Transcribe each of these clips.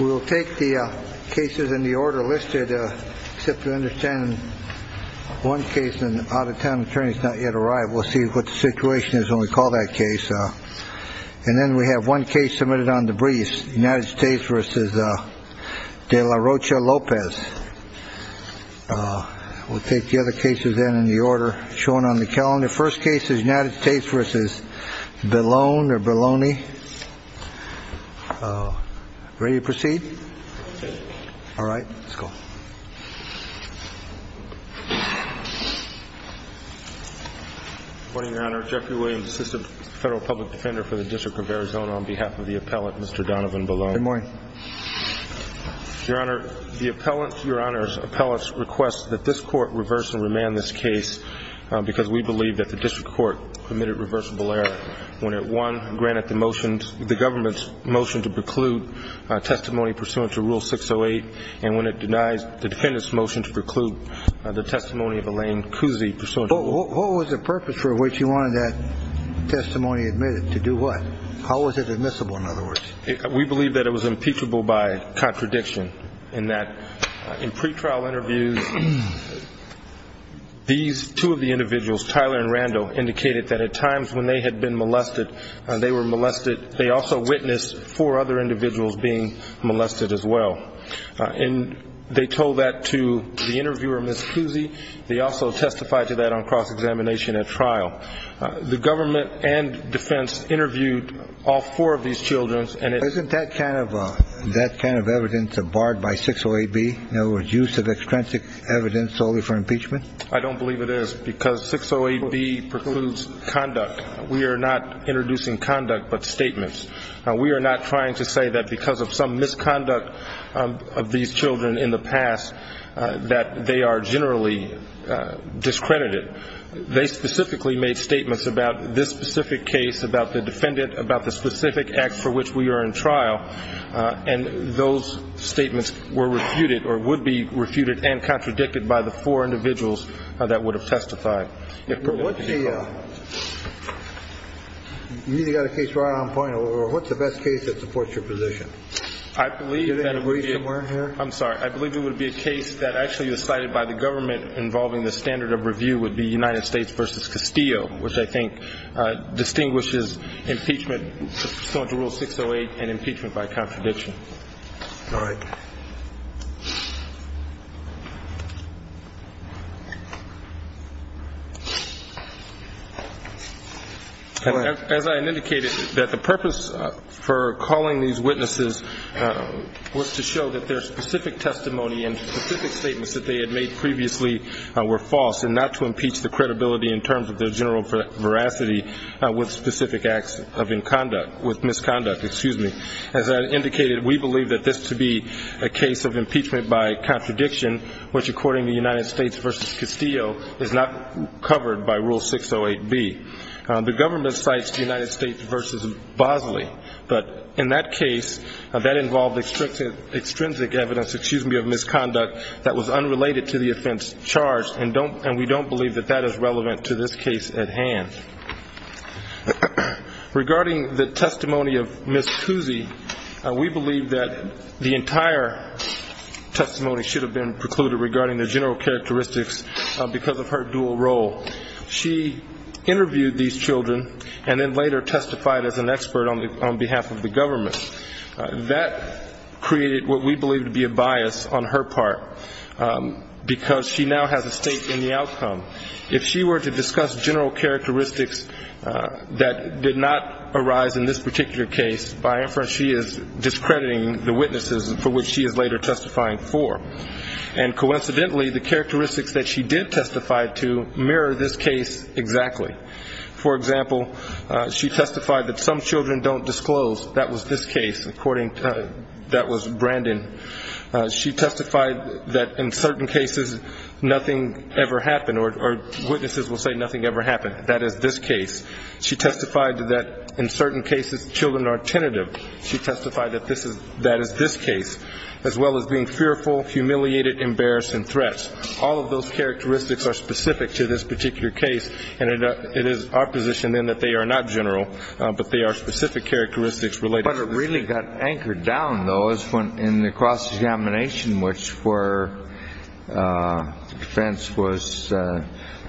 We'll take the cases in the order listed, except to understand one case, an out-of-town attorney has not yet arrived. We'll see what the situation is when we call that case. And then we have one case submitted on the briefs, United States v. De La Rocha Lopez. We'll take the other cases in the order shown on the calendar. And the first case is United States v. Belone or Boloney. Ready to proceed? All right, let's go. Good morning, Your Honor. Jeffrey Williams, Assistant Federal Public Defender for the District of Arizona, on behalf of the appellate, Mr. Donovan Belone. Good morning. Your Honor, the appellate's request that this Court reverse and remand this case because we believe that the District Court committed reversible error when it, one, granted the government's motion to preclude testimony pursuant to Rule 608 and when it denies the defendant's motion to preclude the testimony of Elaine Kuzi pursuant to Rule 608. What was the purpose for which you wanted that testimony admitted? To do what? How was it admissible, in other words? We believe that it was impeachable by contradiction in that in pretrial interviews, these two of the individuals, Tyler and Randall, indicated that at times when they had been molested, they were molested. They also witnessed four other individuals being molested as well. And they told that to the interviewer, Ms. Kuzi. They also testified to that on cross-examination at trial. The government and defense interviewed all four of these children. Isn't that kind of evidence barred by 608B, in other words, use of extrinsic evidence solely for impeachment? I don't believe it is because 608B precludes conduct. We are not introducing conduct but statements. We are not trying to say that because of some misconduct of these children in the past that they are generally discredited. They specifically made statements about this specific case, about the defendant, about the specific act for which we are in trial, and those statements were refuted or would be refuted and contradicted by the four individuals that would have testified. You either got a case right on point or what's the best case that supports your position? I believe that it would be a case that actually was cited by the government involving the standard of review would be United States v. Castillo, which I think distinguishes impeachment pursuant to Rule 608 and impeachment by contradiction. All right. As I indicated, the purpose for calling these witnesses was to show that their specific testimony and specific statements that they had made previously were false and not to impeach the credibility in terms of their general veracity with specific acts of misconduct. As I indicated, we believe that this to be a case of impeachment by contradiction, which according to United States v. Castillo is not covered by Rule 608B. The government cites the United States v. Bosley, but in that case that involved extrinsic evidence of misconduct that was unrelated to the offense charged, and we don't believe that that is relevant to this case at hand. Regarding the testimony of Ms. Cousy, we believe that the entire testimony should have been precluded regarding the general characteristics because of her dual role. She interviewed these children and then later testified as an expert on behalf of the government. That created what we believe to be a bias on her part because she now has a stake in the outcome. If she were to discuss general characteristics that did not arise in this particular case, by inference she is discrediting the witnesses for which she is later testifying for. Coincidentally, the characteristics that she did testify to mirror this case exactly. For example, she testified that some children don't disclose. That was this case according to Brandon. She testified that in certain cases nothing ever happened, or witnesses will say nothing ever happened. That is this case. She testified that in certain cases children are tentative. She testified that that is this case, as well as being fearful, humiliated, embarrassed, and threats. All of those characteristics are specific to this particular case, and it is our position then that they are not general, but they are specific characteristics related. But it really got anchored down, though, in the cross-examination, which the defense was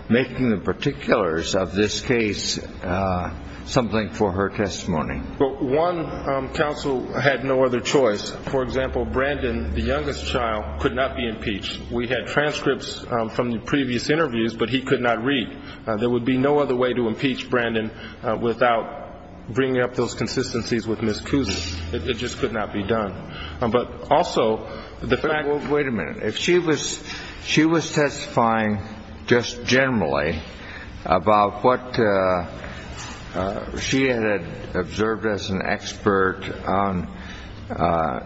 making the particulars of this case something for her testimony. Well, one counsel had no other choice. For example, Brandon, the youngest child, could not be impeached. We had transcripts from the previous interviews, but he could not read. There would be no other way to impeach Brandon without bringing up those consistencies with Ms. Cousy. It just could not be done. But also, the fact that she was testifying just generally about what she had observed as an expert on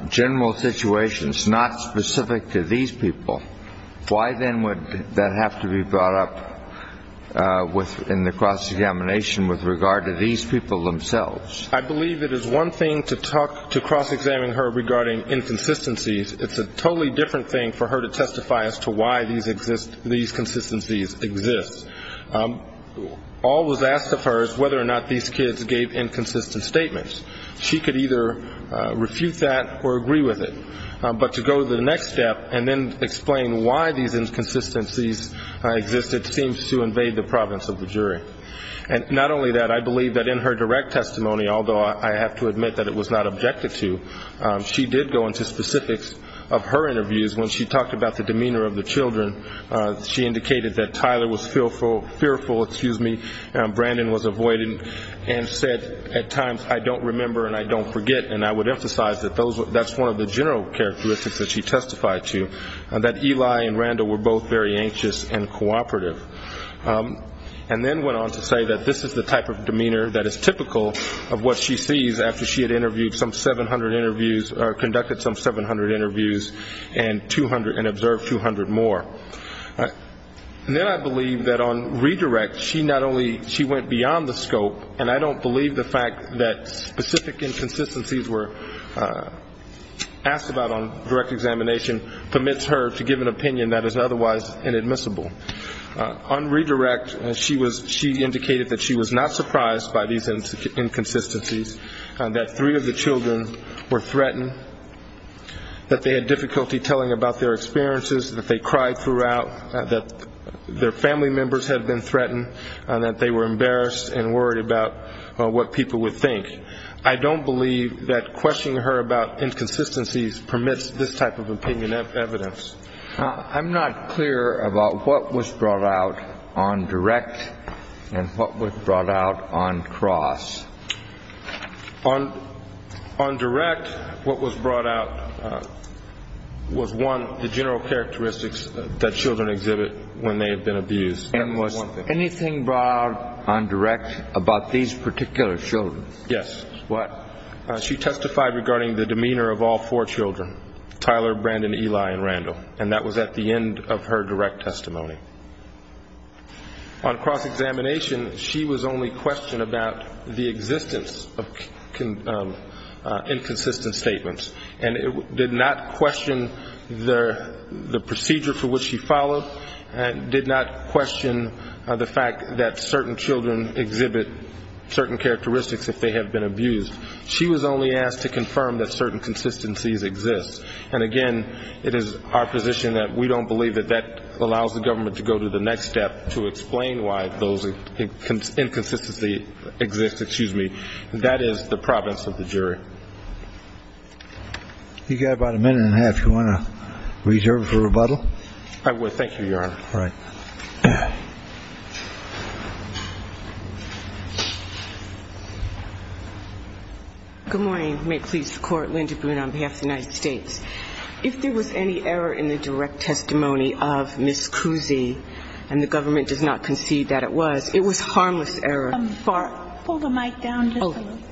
general situations not specific to these people, why then would that have to be brought up in the cross-examination with regard to these people themselves? I believe it is one thing to cross-examine her regarding inconsistencies. It's a totally different thing for her to testify as to why these consistencies exist. All was asked of her is whether or not these kids gave inconsistent statements. She could either refute that or agree with it. But to go to the next step and then explain why these inconsistencies existed seems to invade the province of the jury. And not only that, I believe that in her direct testimony, although I have to admit that it was not objected to, she did go into specifics of her interviews when she talked about the demeanor of the children. She indicated that Tyler was fearful, excuse me, Brandon was avoiding and said at times, I don't remember and I don't forget. And I would emphasize that that's one of the general characteristics that she testified to, that Eli and Randall were both very anxious and cooperative. And then went on to say that this is the type of demeanor that is typical of what she sees after she had interviewed some 700 interviews or conducted some 700 interviews and observed 200 more. And then I believe that on redirect, she not only, she went beyond the scope, and I don't believe the fact that specific inconsistencies were asked about on direct examination permits her to give an opinion that is otherwise inadmissible. On redirect, she indicated that she was not surprised by these inconsistencies. That three of the children were threatened, that they had difficulty telling about their experiences, that they cried throughout, that their family members had been threatened, that they were embarrassed and worried about what people would think. I don't believe that questioning her about inconsistencies permits this type of opinion of evidence. I'm not clear about what was brought out on direct and what was brought out on cross. On direct, what was brought out was, one, the general characteristics that children exhibit when they have been abused. And was anything brought out on direct about these particular children? Yes. What? She testified regarding the demeanor of all four children, Tyler, Brandon, Eli, and Randall. And that was at the end of her direct testimony. On cross-examination, she was only questioned about the existence of inconsistent statements and did not question the procedure for which she followed and did not question the fact that certain children exhibit certain characteristics if they have been abused. She was only asked to confirm that certain consistencies exist. And, again, it is our position that we don't believe that that allows the government to go to the next step to explain why those inconsistencies exist. Excuse me. That is the province of the jury. You've got about a minute and a half. Do you want to reserve it for rebuttal? I would. Thank you, Your Honor. All right. Good morning. May it please the Court. Linda Boone on behalf of the United States. If there was any error in the direct testimony of Ms. Cousy, and the government does not concede that it was, it was harmless error. Pull the mic down just a little bit.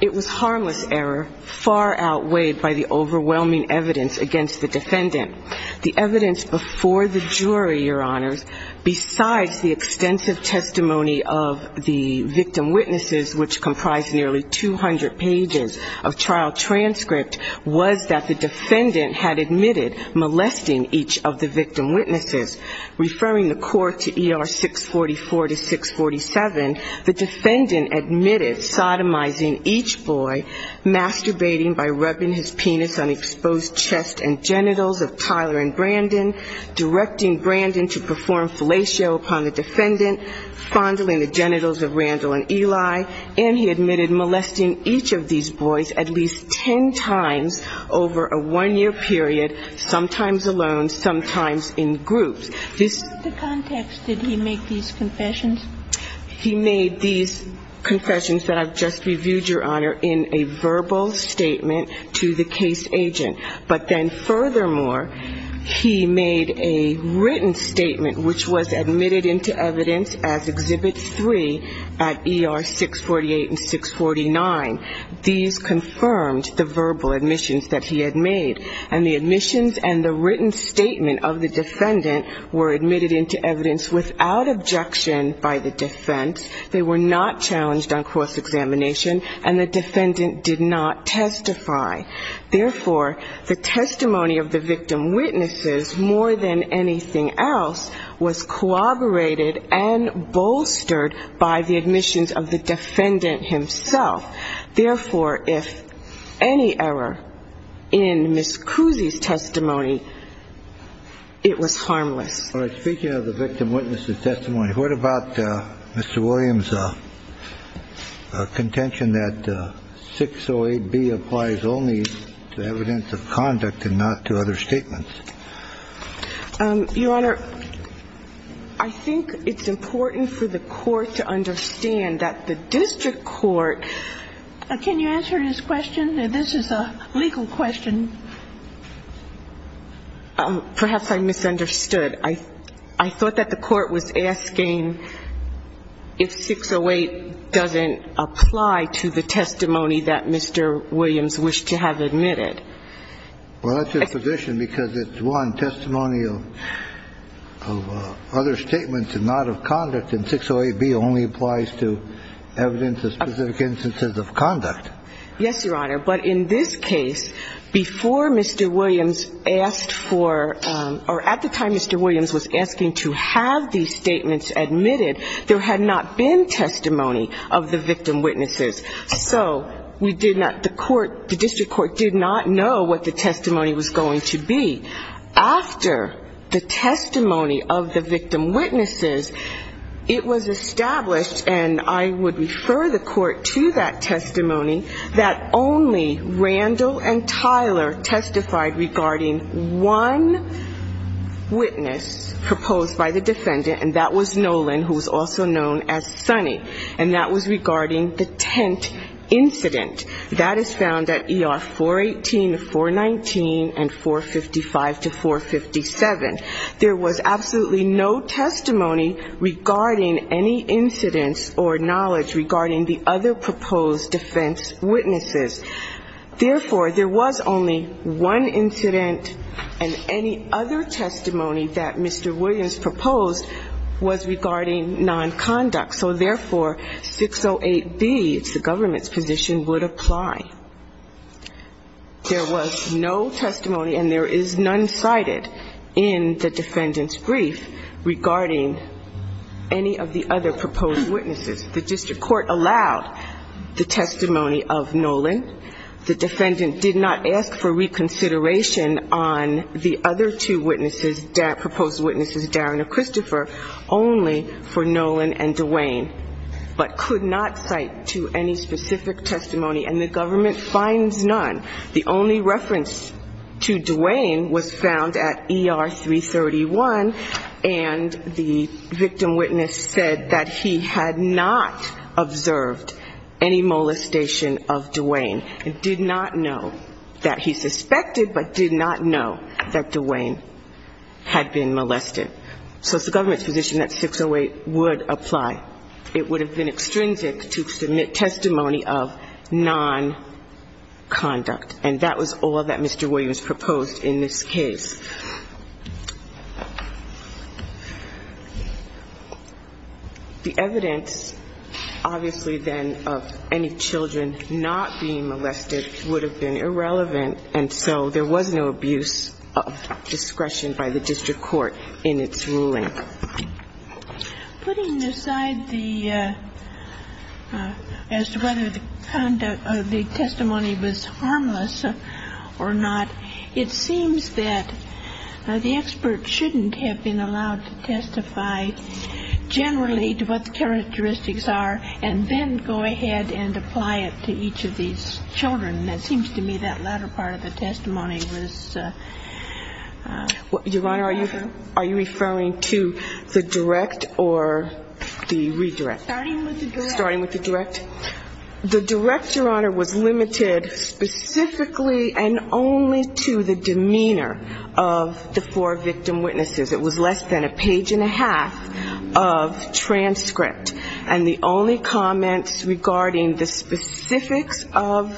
It was harmless error far outweighed by the overwhelming evidence against the defendant. The evidence before the jury, Your Honors, besides the extensive testimony of the victim witnesses, which comprised nearly 200 pages of trial transcript, was that the defendant had admitted molesting each of the victim witnesses. Referring the Court to ER 644 to 647, the defendant admitted sodomizing each boy, masturbating by rubbing his penis on exposed chest and genitals of Tyler and Brandon, directing Brandon to perform fellatio upon the defendant, fondling the genitals of Randall and Eli, and he admitted molesting each of these boys at least ten times over a one-year period, sometimes alone, sometimes in groups. In what context did he make these confessions? He made these confessions that I've just reviewed, Your Honor, in a verbal statement to the case agent. But then furthermore, he made a written statement which was admitted into evidence as Exhibit 3 at ER 648 and 649. These confirmed the verbal admissions that he had made, and the admissions and the written statement of the defendant were admitted into evidence without objection by the defense, they were not challenged on course examination, and the defendant did not testify. Therefore, the testimony of the victim witnesses, more than anything else, was corroborated and bolstered by the admissions of the defendant himself. Therefore, if any error in Ms. Cousy's testimony, it was harmless. All right, speaking of the victim witnesses' testimony, what about Mr. Williams' contention that 608B applies only to evidence of conduct and not to other statements? Your Honor, I think it's important for the court to understand that the district court – can you answer this question? This is a legal question. Perhaps I misunderstood. I thought that the court was asking if 608 doesn't apply to the testimony that Mr. Williams wished to have admitted. Well, that's your position because it's, one, testimony of other statements and not of conduct, and 608B only applies to evidence of specific instances of conduct. Yes, Your Honor, but in this case, before Mr. Williams asked for – or at the time Mr. Williams was asking to have these statements admitted, there had not been testimony of the victim witnesses. So we did not – the court – the district court did not know what the testimony was going to be. After the testimony of the victim witnesses, it was established – and I would refer the court to that testimony – that only Randall and Tyler testified regarding one witness proposed by the defendant, and that was Nolan, who was also known as Sonny, and that was regarding the tent incident. That is found at ER 418 to 419 and 455 to 457. There was absolutely no testimony regarding any incidents or knowledge regarding the other proposed defense witnesses. Therefore, there was only one incident, and any other testimony that Mr. Williams proposed was regarding nonconduct. So therefore, 608B, it's the government's position, would apply. There was no testimony, and there is none cited in the defendant's brief regarding any of the other proposed witnesses. The district court allowed the testimony of Nolan. The defendant did not ask for reconsideration on the other two witnesses, proposed witnesses Darren and Christopher, only for Nolan and DeWayne, but could not cite to any specific testimony, and the government finds none. The only reference to DeWayne was found at ER 331, and the victim witness said that he had not observed any molestation of DeWayne. He did not know that he suspected, but did not know that DeWayne had been molested. So it's the government's position that 608 would apply. It would have been extrinsic to submit testimony of nonconduct, and that was all that Mr. Williams proposed in this case. The evidence, obviously, then, of any children not being molested would have been irrelevant, and so there was no abuse of discretion by the district court in its ruling. Putting aside the as to whether the conduct of the testimony was harmless or not, it seems that the expert shouldn't have been allowed to testify generally to what the characteristics are and then go ahead and apply it to each of these children. It seems to me that latter part of the testimony was harmful. Your Honor, are you referring to the direct or the redirect? Starting with the direct. Starting with the direct. The direct, Your Honor, was limited specifically and only to the demeanor of the four victim witnesses. It was less than a page and a half of transcript, and the only comments regarding the specifics of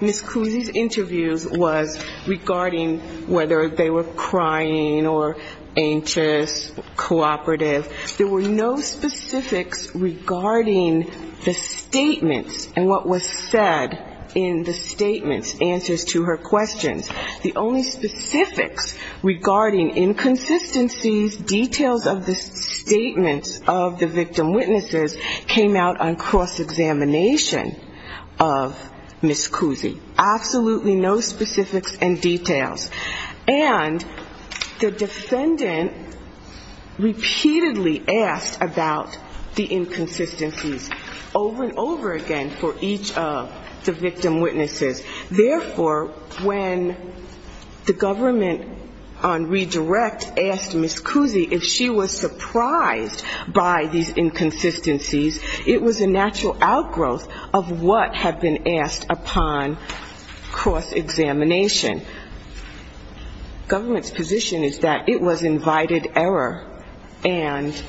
Ms. Cousy's interviews was regarding whether they were crying or anxious, cooperative. There were no specifics regarding the statements and what was said in the statements, answers to her questions. The only specifics regarding inconsistencies, details of the statements of the victim witnesses, came out on cross-examination of Ms. Cousy. Absolutely no specifics and details. And the defendant repeatedly asked about the inconsistencies over and over again for each of the victim witnesses. Therefore, when the government on redirect asked Ms. Cousy if she was surprised by these inconsistencies, it was a natural outgrowth of what had been asked upon cross-examination. Government's position is that it was invited error and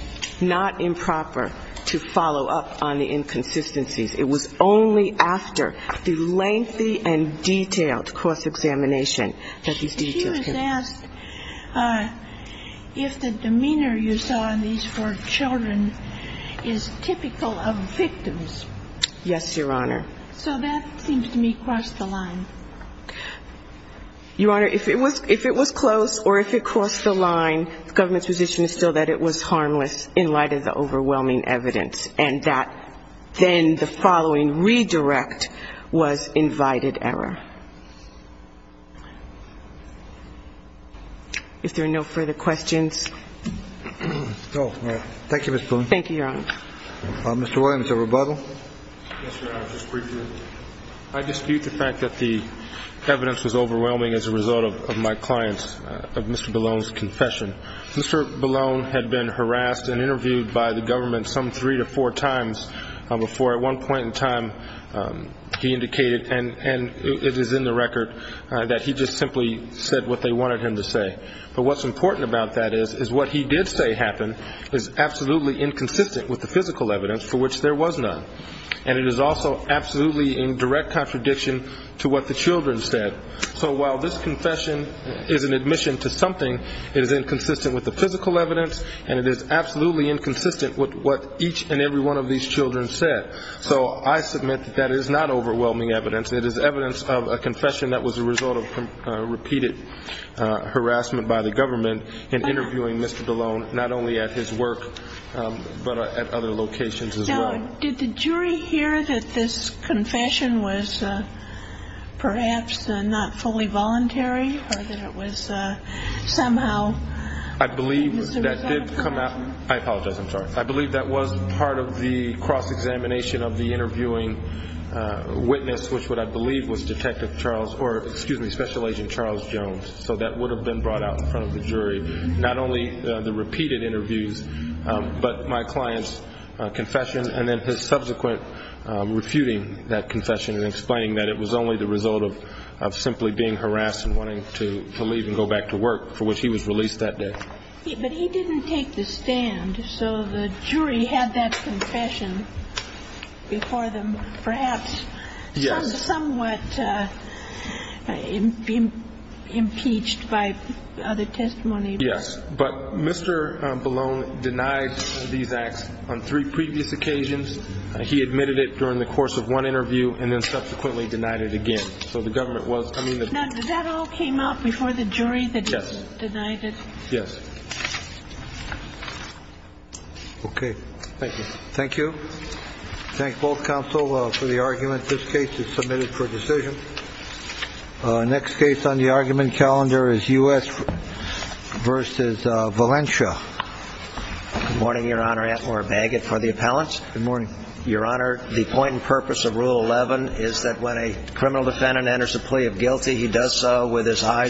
not improper to follow up on the inconsistencies. It was only after the lengthy and detailed cross-examination that these details came out. She was asked if the demeanor you saw in these four children is typical of victims. Yes, Your Honor. So that seems to me crossed the line. Your Honor, if it was close or if it crossed the line, government's position is still that it was harmless in light of the overwhelming evidence and that then the following redirect was invited error. If there are no further questions. Thank you, Your Honor. Mr. Williams, a rebuttal. I dispute the fact that the evidence was overwhelming as a result of my client's, of Mr. Ballone's confession. Mr. Ballone had been harassed and interviewed by the government some three to four times before at one point in time he indicated, and it is in the record, that he just simply said what they wanted him to say. But what's important about that is what he did say happened is absolutely inconsistent with the physical evidence for which there was none. And it is also absolutely in direct contradiction to what the children said. So while this confession is an admission to something, it is inconsistent with the physical evidence and it is absolutely inconsistent with what each and every one of these children said. So I submit that that is not overwhelming evidence. It is evidence of a confession that was a result of repeated harassment by the government in interviewing Mr. Ballone not only at his work but at other locations as well. Now, did the jury hear that this confession was perhaps not fully voluntary I apologize, I'm sorry. I believe that was part of the cross-examination of the interviewing witness which what I believe was Detective Charles, or excuse me, Special Agent Charles Jones. So that would have been brought out in front of the jury, not only the repeated interviews but my client's confession and then his subsequent refuting that confession and explaining that it was only the result of simply being harassed and wanting to leave and go back to work for which he was released that day. But he didn't take the stand, so the jury had that confession before them perhaps somewhat impeached by other testimony. Yes, but Mr. Ballone denied these acts on three previous occasions. He admitted it during the course of one interview and then subsequently denied it again. So the government was... Now, did that all came out before the jury that he denied it? Yes. Okay. Thank you. Thank you. Thank both counsel for the argument. This case is submitted for decision. Next case on the argument calendar is U.S. v. Valencia. Good morning, Your Honor. Antler Bagot for the appellants. Good morning. Your Honor, the point and purpose of Rule 11 is that when a criminal defendant enters a plea of guilty he does so with his eyes open.